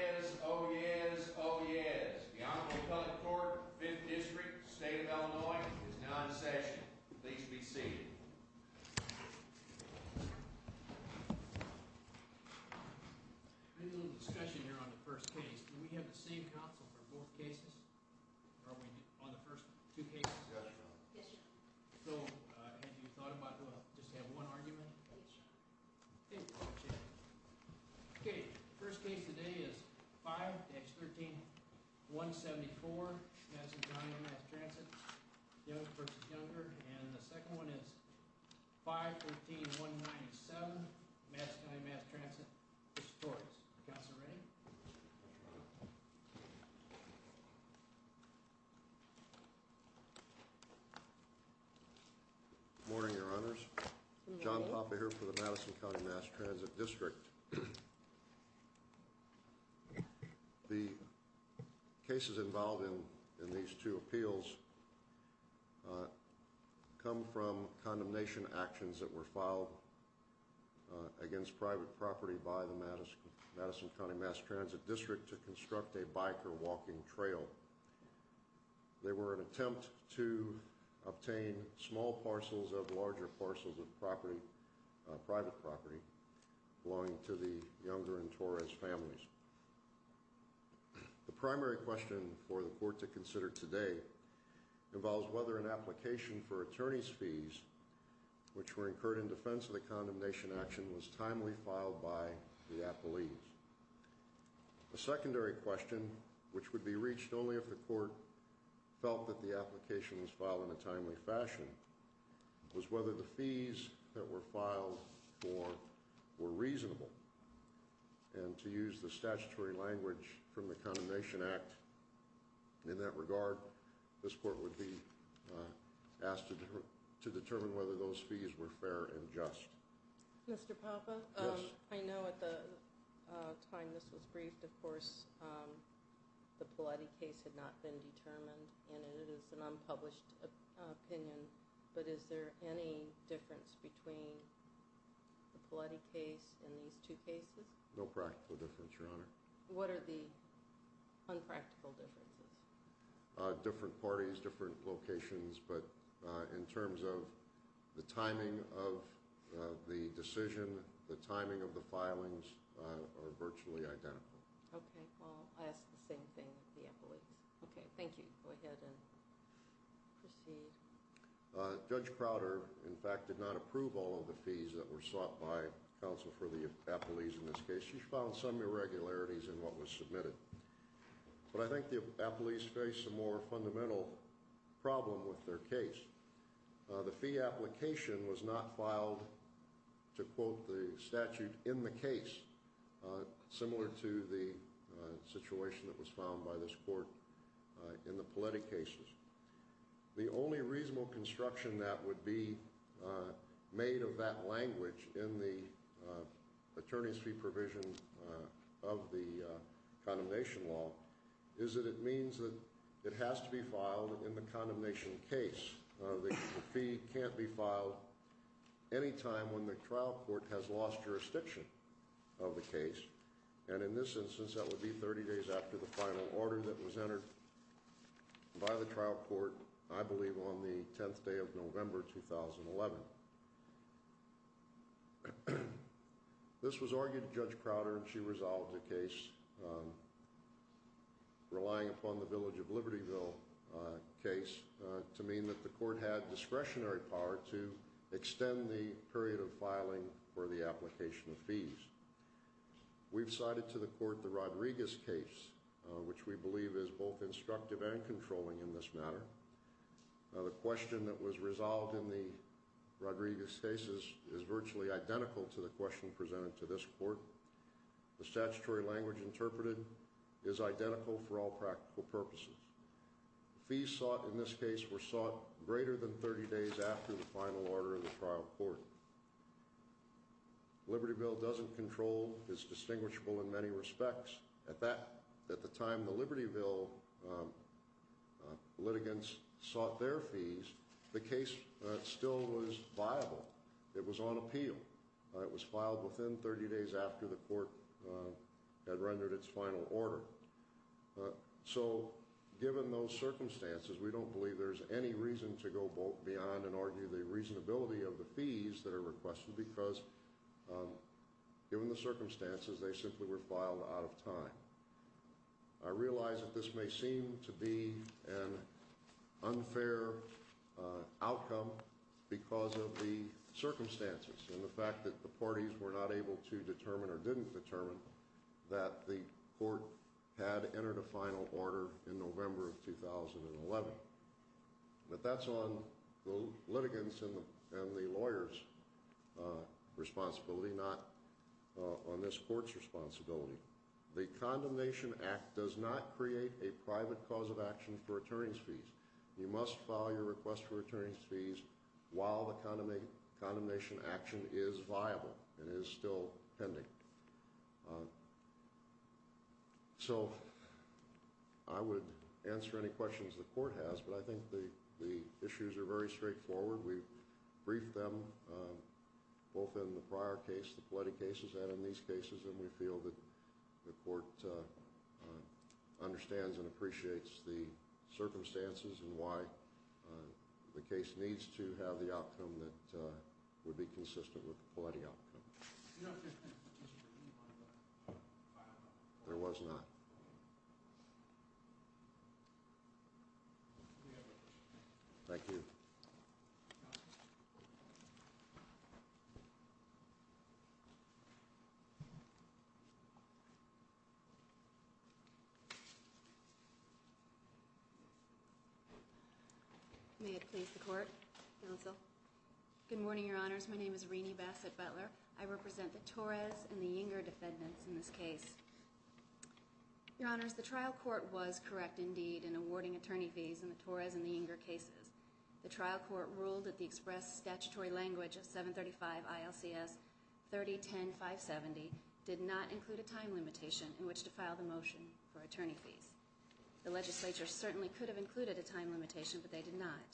Oh yes, oh yes, oh yes. The Honorable Appellate Court, 5th District, State of Illinois, is now in session. Please be seated. We're having a little discussion here on the first case. Can we have the same counsel for both cases? Or are we on the first two cases? Yes, Your Honor. So, have you thought about, well, just have one argument? Yes, Your Honor. Thank you. Okay, first case today is 5-13-174, Madison County Mass Transit v. Juenger. And the second one is 5-14-197, Madison County Mass Transit v. Torres. Counselor, ready? Morning, Your Honors. John Papa here for the Madison County Mass Transit District. The cases involved in these two appeals come from condemnation actions that were filed against private property by the Madison County Mass Transit District to construct a bike or walking trail. They were an attempt to obtain small parcels of larger parcels of private property belonging to the Juenger and Torres families. The primary question for the court to consider today involves whether an application for attorney's fees, which were incurred in defense of the condemnation action, was timely filed by the appellees. A secondary question, which would be reached only if the court felt that the application was filed in a timely fashion, was whether the fees that were filed for were reasonable. And to use the statutory language from the Condemnation Act in that regard, this court would be asked to determine whether those fees were fair and just. Mr. Papa, I know at the time this was briefed, of course, the Paletti case had not been determined, and it is an unpublished opinion, but is there any difference between the Paletti case and these two cases? No practical difference, Your Honor. What are the unpractical differences? Different parties, different locations, but in terms of the timing of the decision, the timing of the filings are virtually identical. Okay, well, I'll ask the same thing of the appellees. Okay, thank you. Go ahead and proceed. Judge Crowder, in fact, did not approve all of the fees that were sought by counsel for the appellees in this case. She found some irregularities in what was submitted. But I think the appellees face a more fundamental problem with their case. The fee application was not filed to quote the statute in the case, similar to the situation that was found by this court in the Paletti cases. The only reasonable construction that would be made of that language in the attorney's fee provision of the condemnation law is that it means that it has to be filed in the condemnation case. The fee can't be filed any time when the trial court has lost jurisdiction of the case. And in this instance, that would be 30 days after the final order that was entered by the trial court, I believe, on the 10th day of November 2011. This was argued to Judge Crowder, and she resolved the case relying upon the Village of Libertyville case to mean that the court had discretionary power to extend the period of filing for the application of fees. We've cited to the court the Rodriguez case, which we believe is both instructive and controlling in this matter. The question that was resolved in the Rodriguez case is virtually identical to the question presented to this court. The statutory language interpreted is identical for all practical purposes. Fees sought in this case were sought greater than 30 days after the final order of the trial court. Libertyville doesn't control, is distinguishable in many respects. At the time the Libertyville litigants sought their fees, the case still was viable. It was on appeal. It was filed within 30 days after the court had rendered its final order. So, given those circumstances, we don't believe there's any reason to go beyond and argue the reasonability of the fees that are requested because, given the circumstances, they simply were filed out of time. I realize that this may seem to be an unfair outcome because of the circumstances and the fact that the parties were not able to determine or didn't determine that the court had entered a final order in November of 2011. But that's on the litigants and the lawyers' responsibility, not on this court's responsibility. The Condemnation Act does not create a private cause of action for attorney's fees. You must file your request for attorney's fees while the condemnation action is viable and is still pending. So, I would answer any questions the court has, but I think the issues are very straightforward. We've briefed them both in the prior case, the Paletti cases, and in these cases, and we feel that the court understands and appreciates the circumstances and why the case needs to have the outcome that would be consistent with the Paletti outcome. There was not. Thank you. May it please the court. Counsel. Good morning, Your Honors. My name is Rene Bassett Butler. I represent the Torres and the Inger defendants in this case. Your Honors, the trial court was correct indeed in awarding attorney fees in the Torres and the Inger cases. The trial court ruled that the express statutory language of 735 ILCS 3010570 did not include a time limitation in which to file the motion for attorney fees. The legislature certainly could have included a time limitation, but they did not.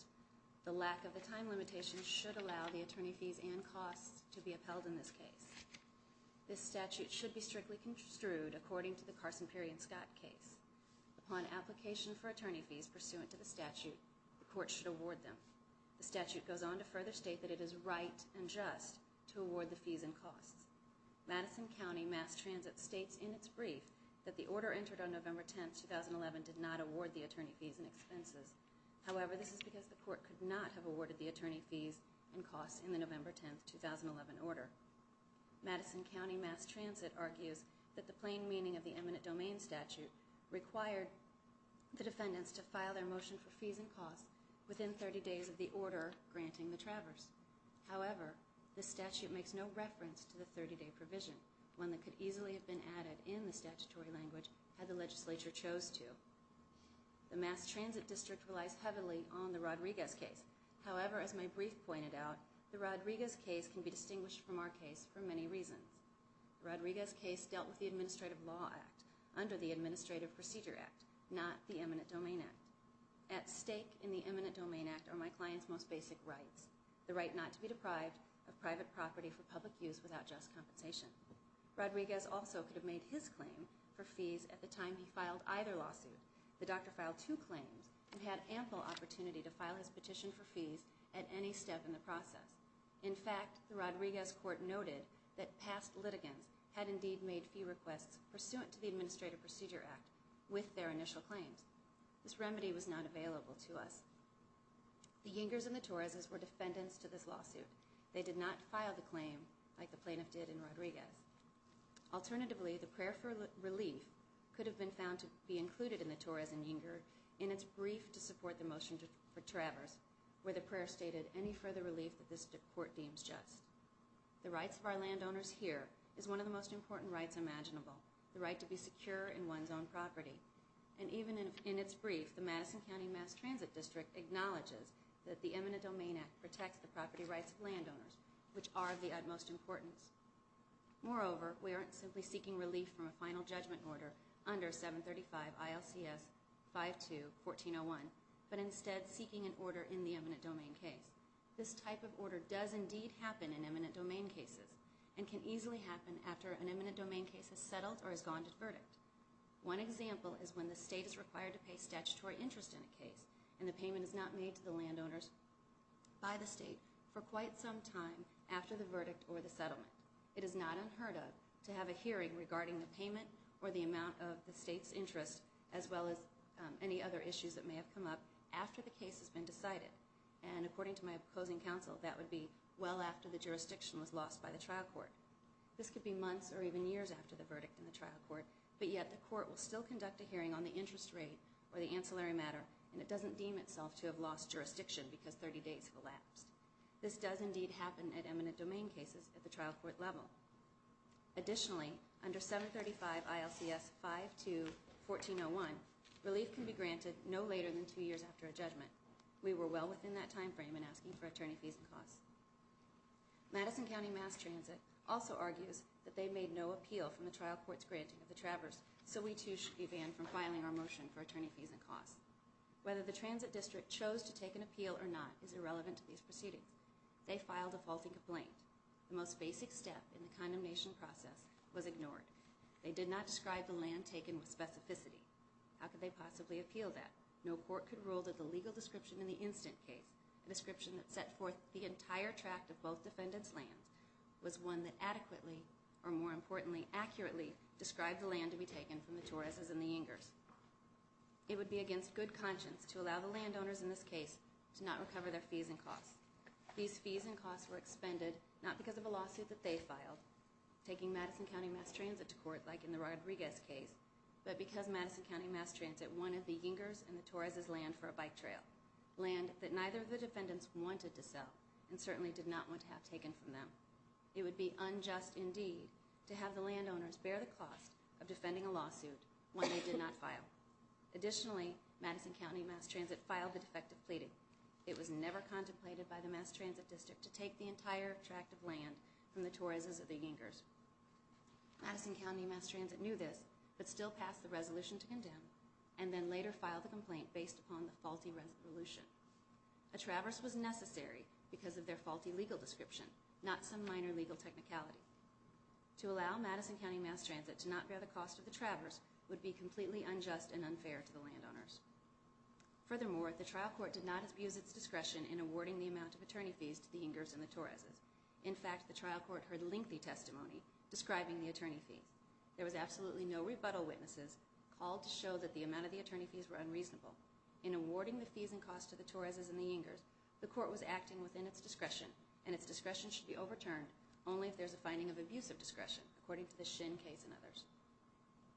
The lack of the time limitation should allow the attorney fees and costs to be upheld in this case. This statute should be strictly construed according to the Carson, Perry, and Scott case. Upon application for attorney fees pursuant to the statute, the court should award them. The statute goes on to further state that it is right and just to award the fees and costs. Madison County Mass Transit states in its brief that the order entered on November 10, 2011 did not award the attorney fees and expenses. However, this is because the court could not have awarded the attorney fees and costs in the November 10, 2011 order. Madison County Mass Transit argues that the plain meaning of the eminent domain statute required the defendants to file their motion for fees and costs within 30 days of the order granting the traverse. However, the statute makes no reference to the 30-day provision, one that could easily have been added in the statutory language had the legislature chose to. The Mass Transit District relies heavily on the Rodriguez case. However, as my brief pointed out, the Rodriguez case can be distinguished from our case for many reasons. The Rodriguez case dealt with the Administrative Law Act under the Administrative Procedure Act, not the Eminent Domain Act. At stake in the Eminent Domain Act are my client's most basic rights, the right not to be deprived of private property for public use without just compensation. Rodriguez also could have made his claim for fees at the time he filed either lawsuit. The doctor filed two claims and had ample opportunity to file his petition for fees at any step in the process. In fact, the Rodriguez court noted that past litigants had indeed made fee requests pursuant to the Administrative Procedure Act with their initial claims. This remedy was not available to us. The Yingers and the Torreses were defendants to this lawsuit. They did not file the claim like the plaintiff did in Rodriguez. Alternatively, the prayer for relief could have been found to be included in the Torres and Yinger in its brief to support the motion for Travers, where the prayer stated any further relief that this court deems just. The rights of our landowners here is one of the most important rights imaginable, the right to be secure in one's own property. And even in its brief, the Madison County Mass Transit District acknowledges that the Eminent Domain Act protects the property rights of landowners, which are of the utmost importance. Moreover, we aren't simply seeking relief from a final judgment order under 735 ILCS 52-1401, but instead seeking an order in the eminent domain case. This type of order does indeed happen in eminent domain cases and can easily happen after an eminent domain case has settled or has gone to verdict. One example is when the state is required to pay statutory interest in a case, and the payment is not made to the landowners by the state for quite some time after the verdict or the settlement. It is not unheard of to have a hearing regarding the payment or the amount of the state's interest, as well as any other issues that may have come up after the case has been decided. And according to my opposing counsel, that would be well after the jurisdiction was lost by the trial court. This could be months or even years after the verdict in the trial court, but yet the court will still conduct a hearing on the interest rate or the ancillary matter, and it doesn't deem itself to have lost jurisdiction because 30 days have elapsed. This does indeed happen at eminent domain cases at the trial court level. Additionally, under 735 ILCS 52-1401, relief can be granted no later than two years after a judgment. We were well within that time frame in asking for attorney fees and costs. Madison County Mass Transit also argues that they made no appeal from the trial court's granting of the Traverse, so we too should be banned from filing our motion for attorney fees and costs. Whether the transit district chose to take an appeal or not is irrelevant to these proceedings. They filed a faulty complaint. The most basic step in the condemnation process was ignored. They did not describe the land taken with specificity. How could they possibly appeal that? No court could rule that the legal description in the instant case, a description that set forth the entire tract of both defendants' lands, was one that adequately, or more importantly, accurately, described the land to be taken from the Torreses and the Yingers. It would be against good conscience to allow the landowners in this case to not recover their fees and costs. These fees and costs were expended not because of a lawsuit that they filed, taking Madison County Mass Transit to court like in the Rodriguez case, but because Madison County Mass Transit wanted the Yingers and the Torreses land for a bike trail, land that neither of the defendants wanted to sell and certainly did not want to have taken from them. It would be unjust indeed to have the landowners bear the cost of defending a lawsuit when they did not file. Additionally, Madison County Mass Transit filed the defective pleading. It was never contemplated by the Mass Transit district to take the entire tract of land from the Torreses or the Yingers. Madison County Mass Transit knew this, but still passed the resolution to condemn, and then later filed the complaint based upon the faulty resolution. A traverse was necessary because of their faulty legal description, not some minor legal technicality. To allow Madison County Mass Transit to not bear the cost of the traverse would be completely unjust and unfair to the landowners. Furthermore, the trial court did not abuse its discretion in awarding the amount of attorney fees to the Yingers and the Torreses. In fact, the trial court heard lengthy testimony describing the attorney fees. There was absolutely no rebuttal witnesses called to show that the amount of the attorney fees were unreasonable. In awarding the fees and costs to the Torreses and the Yingers, the court was acting within its discretion, and its discretion should be overturned only if there is a finding of abusive discretion, according to the Shin case and others.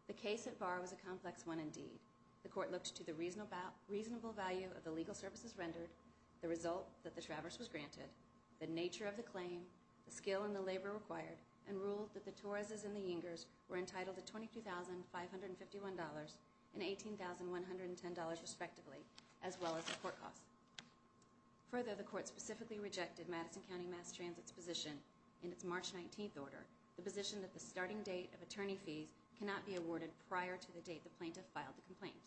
The case at bar was a complex one indeed. The court looked to the reasonable value of the legal services rendered, the result that the traverse was granted, the nature of the claim, the skill and the labor required, and ruled that the Torreses and the Yingers were entitled to $22,551 and $18,110 respectively, as well as the court costs. Further, the court specifically rejected Madison County Mass Transit's position in its March 19th order, the position that the starting date of attorney fees cannot be awarded prior to the date the plaintiff filed the complaint.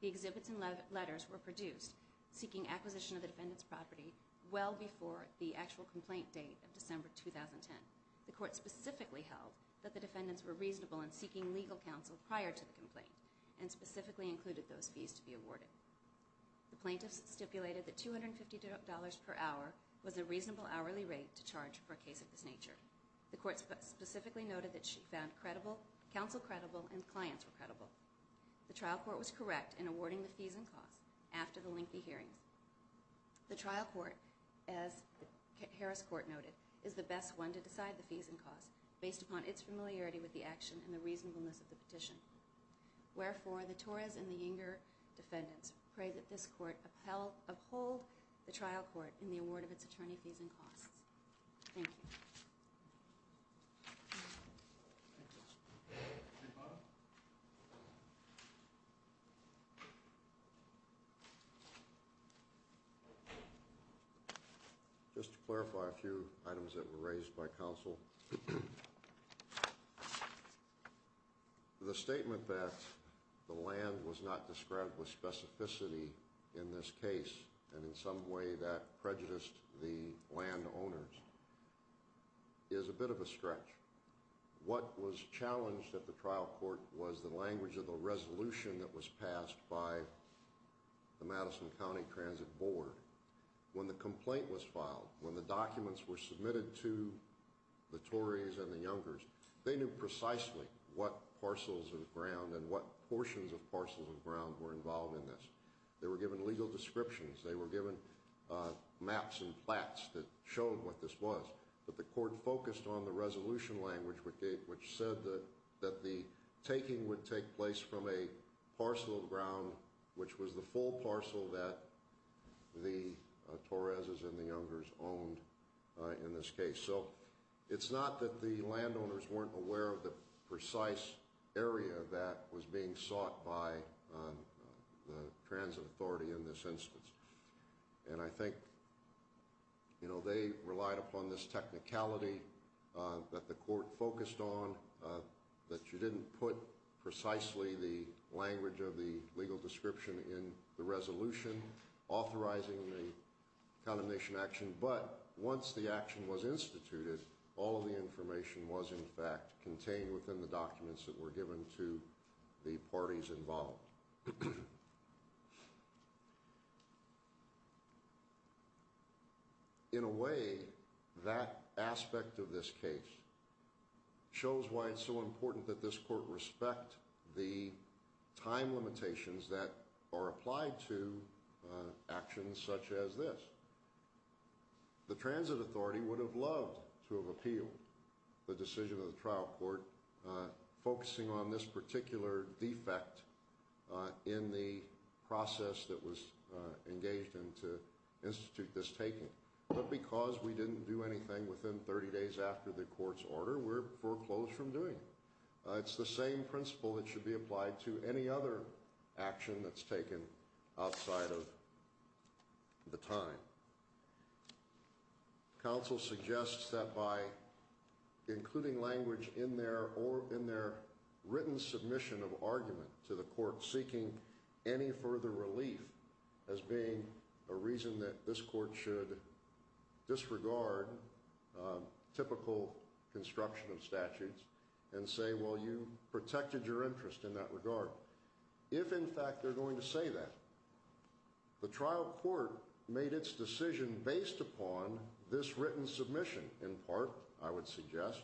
The exhibits and letters were produced seeking acquisition of the defendant's property well before the actual complaint date of December 2010. The court specifically held that the defendants were reasonable in seeking legal counsel prior to the complaint, and specifically included those fees to be awarded. The plaintiff stipulated that $250 per hour was a reasonable hourly rate to charge for a case of this nature. The court specifically noted that she found counsel credible and clients were credible. The trial court was correct in awarding the fees and costs after the lengthy hearings. The trial court, as Harris Court noted, is the best one to decide the fees and costs based upon its familiarity with the action and the reasonableness of the petition. Wherefore, the Torres and the Yinger defendants pray that this court uphold the trial court in the award of its attorney fees and costs. Thank you. Thank you. Just to clarify a few items that were raised by counsel. The statement that the land was not described with specificity in this case, and in some way that prejudiced the landowners, is a bit of a stretch. What was challenged at the trial court was the language of the resolution that was passed by the Madison County Transit Board. When the complaint was filed, when the documents were submitted to the Torres and the Yingers, they knew precisely what parcels of ground and what portions of parcels of ground were involved in this. They were given legal descriptions. They were given maps and plaques that showed what this was. But the court focused on the resolution language, which said that the taking would take place from a parcel of ground, which was the full parcel that the Torres and the Yingers owned in this case. So it's not that the landowners weren't aware of the precise area that was being sought by the transit authority in this instance. And I think, you know, they relied upon this technicality that the court focused on, that you didn't put precisely the language of the legal description in the resolution authorizing the condemnation action. But once the action was instituted, all of the information was in fact contained within the documents that were given to the parties involved. In a way, that aspect of this case shows why it's so important that this court respect the time limitations that are applied to actions such as this. The transit authority would have loved to have appealed the decision of the trial court focusing on this particular defect in the process that was engaged in to institute this taking. But because we didn't do anything within 30 days after the court's order, we're foreclosed from doing it. It's the same principle that should be applied to any other action that's taken outside of the time. Counsel suggests that by including language in their written submission of argument to the court seeking any further relief, as being a reason that this court should disregard typical construction of statutes and say, well, you protected your interest in that regard. If, in fact, they're going to say that, the trial court made its decision based upon this written submission, in part, I would suggest.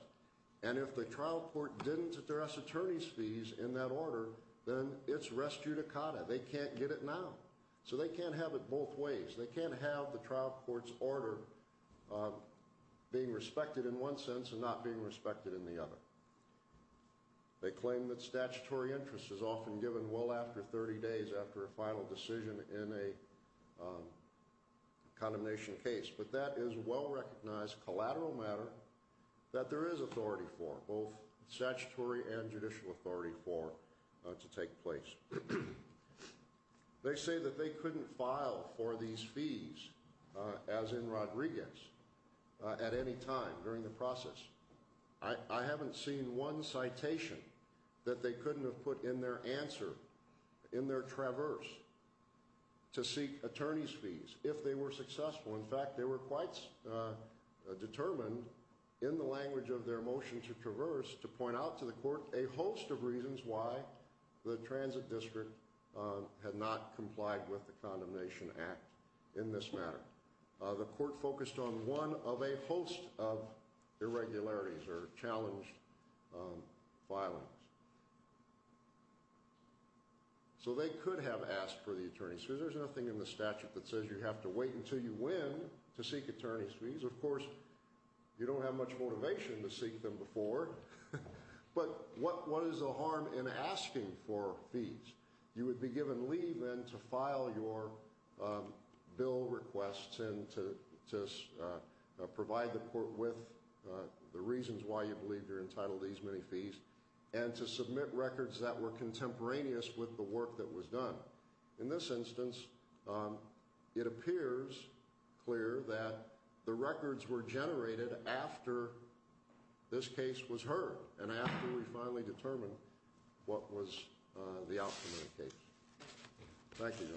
And if the trial court didn't address attorney's fees in that order, then it's res judicata. They can't get it now. So they can't have it both ways. They can't have the trial court's order being respected in one sense and not being respected in the other. They claim that statutory interest is often given well after 30 days after a final decision in a condemnation case. But that is well-recognized collateral matter that there is authority for, both statutory and judicial authority for, to take place. They say that they couldn't file for these fees, as in Rodriguez, at any time during the process. I haven't seen one citation that they couldn't have put in their answer, in their traverse, to seek attorney's fees, if they were successful. In fact, they were quite determined in the language of their motion to traverse to point out to the court a host of reasons why the transit district had not complied with the Condemnation Act in this matter. The court focused on one of a host of irregularities or challenged filings. So they could have asked for the attorney's fees. There's nothing in the statute that says you have to wait until you win to seek attorney's fees. Of course, you don't have much motivation to seek them before. But what is the harm in asking for fees? You would be given leave, then, to file your bill requests and to provide the court with the reasons why you believe you're entitled to these many fees, and to submit records that were contemporaneous with the work that was done. In this instance, it appears clear that the records were generated after this case was heard and after we finally determined what was the outcome of the case. Thank you, Your Honor.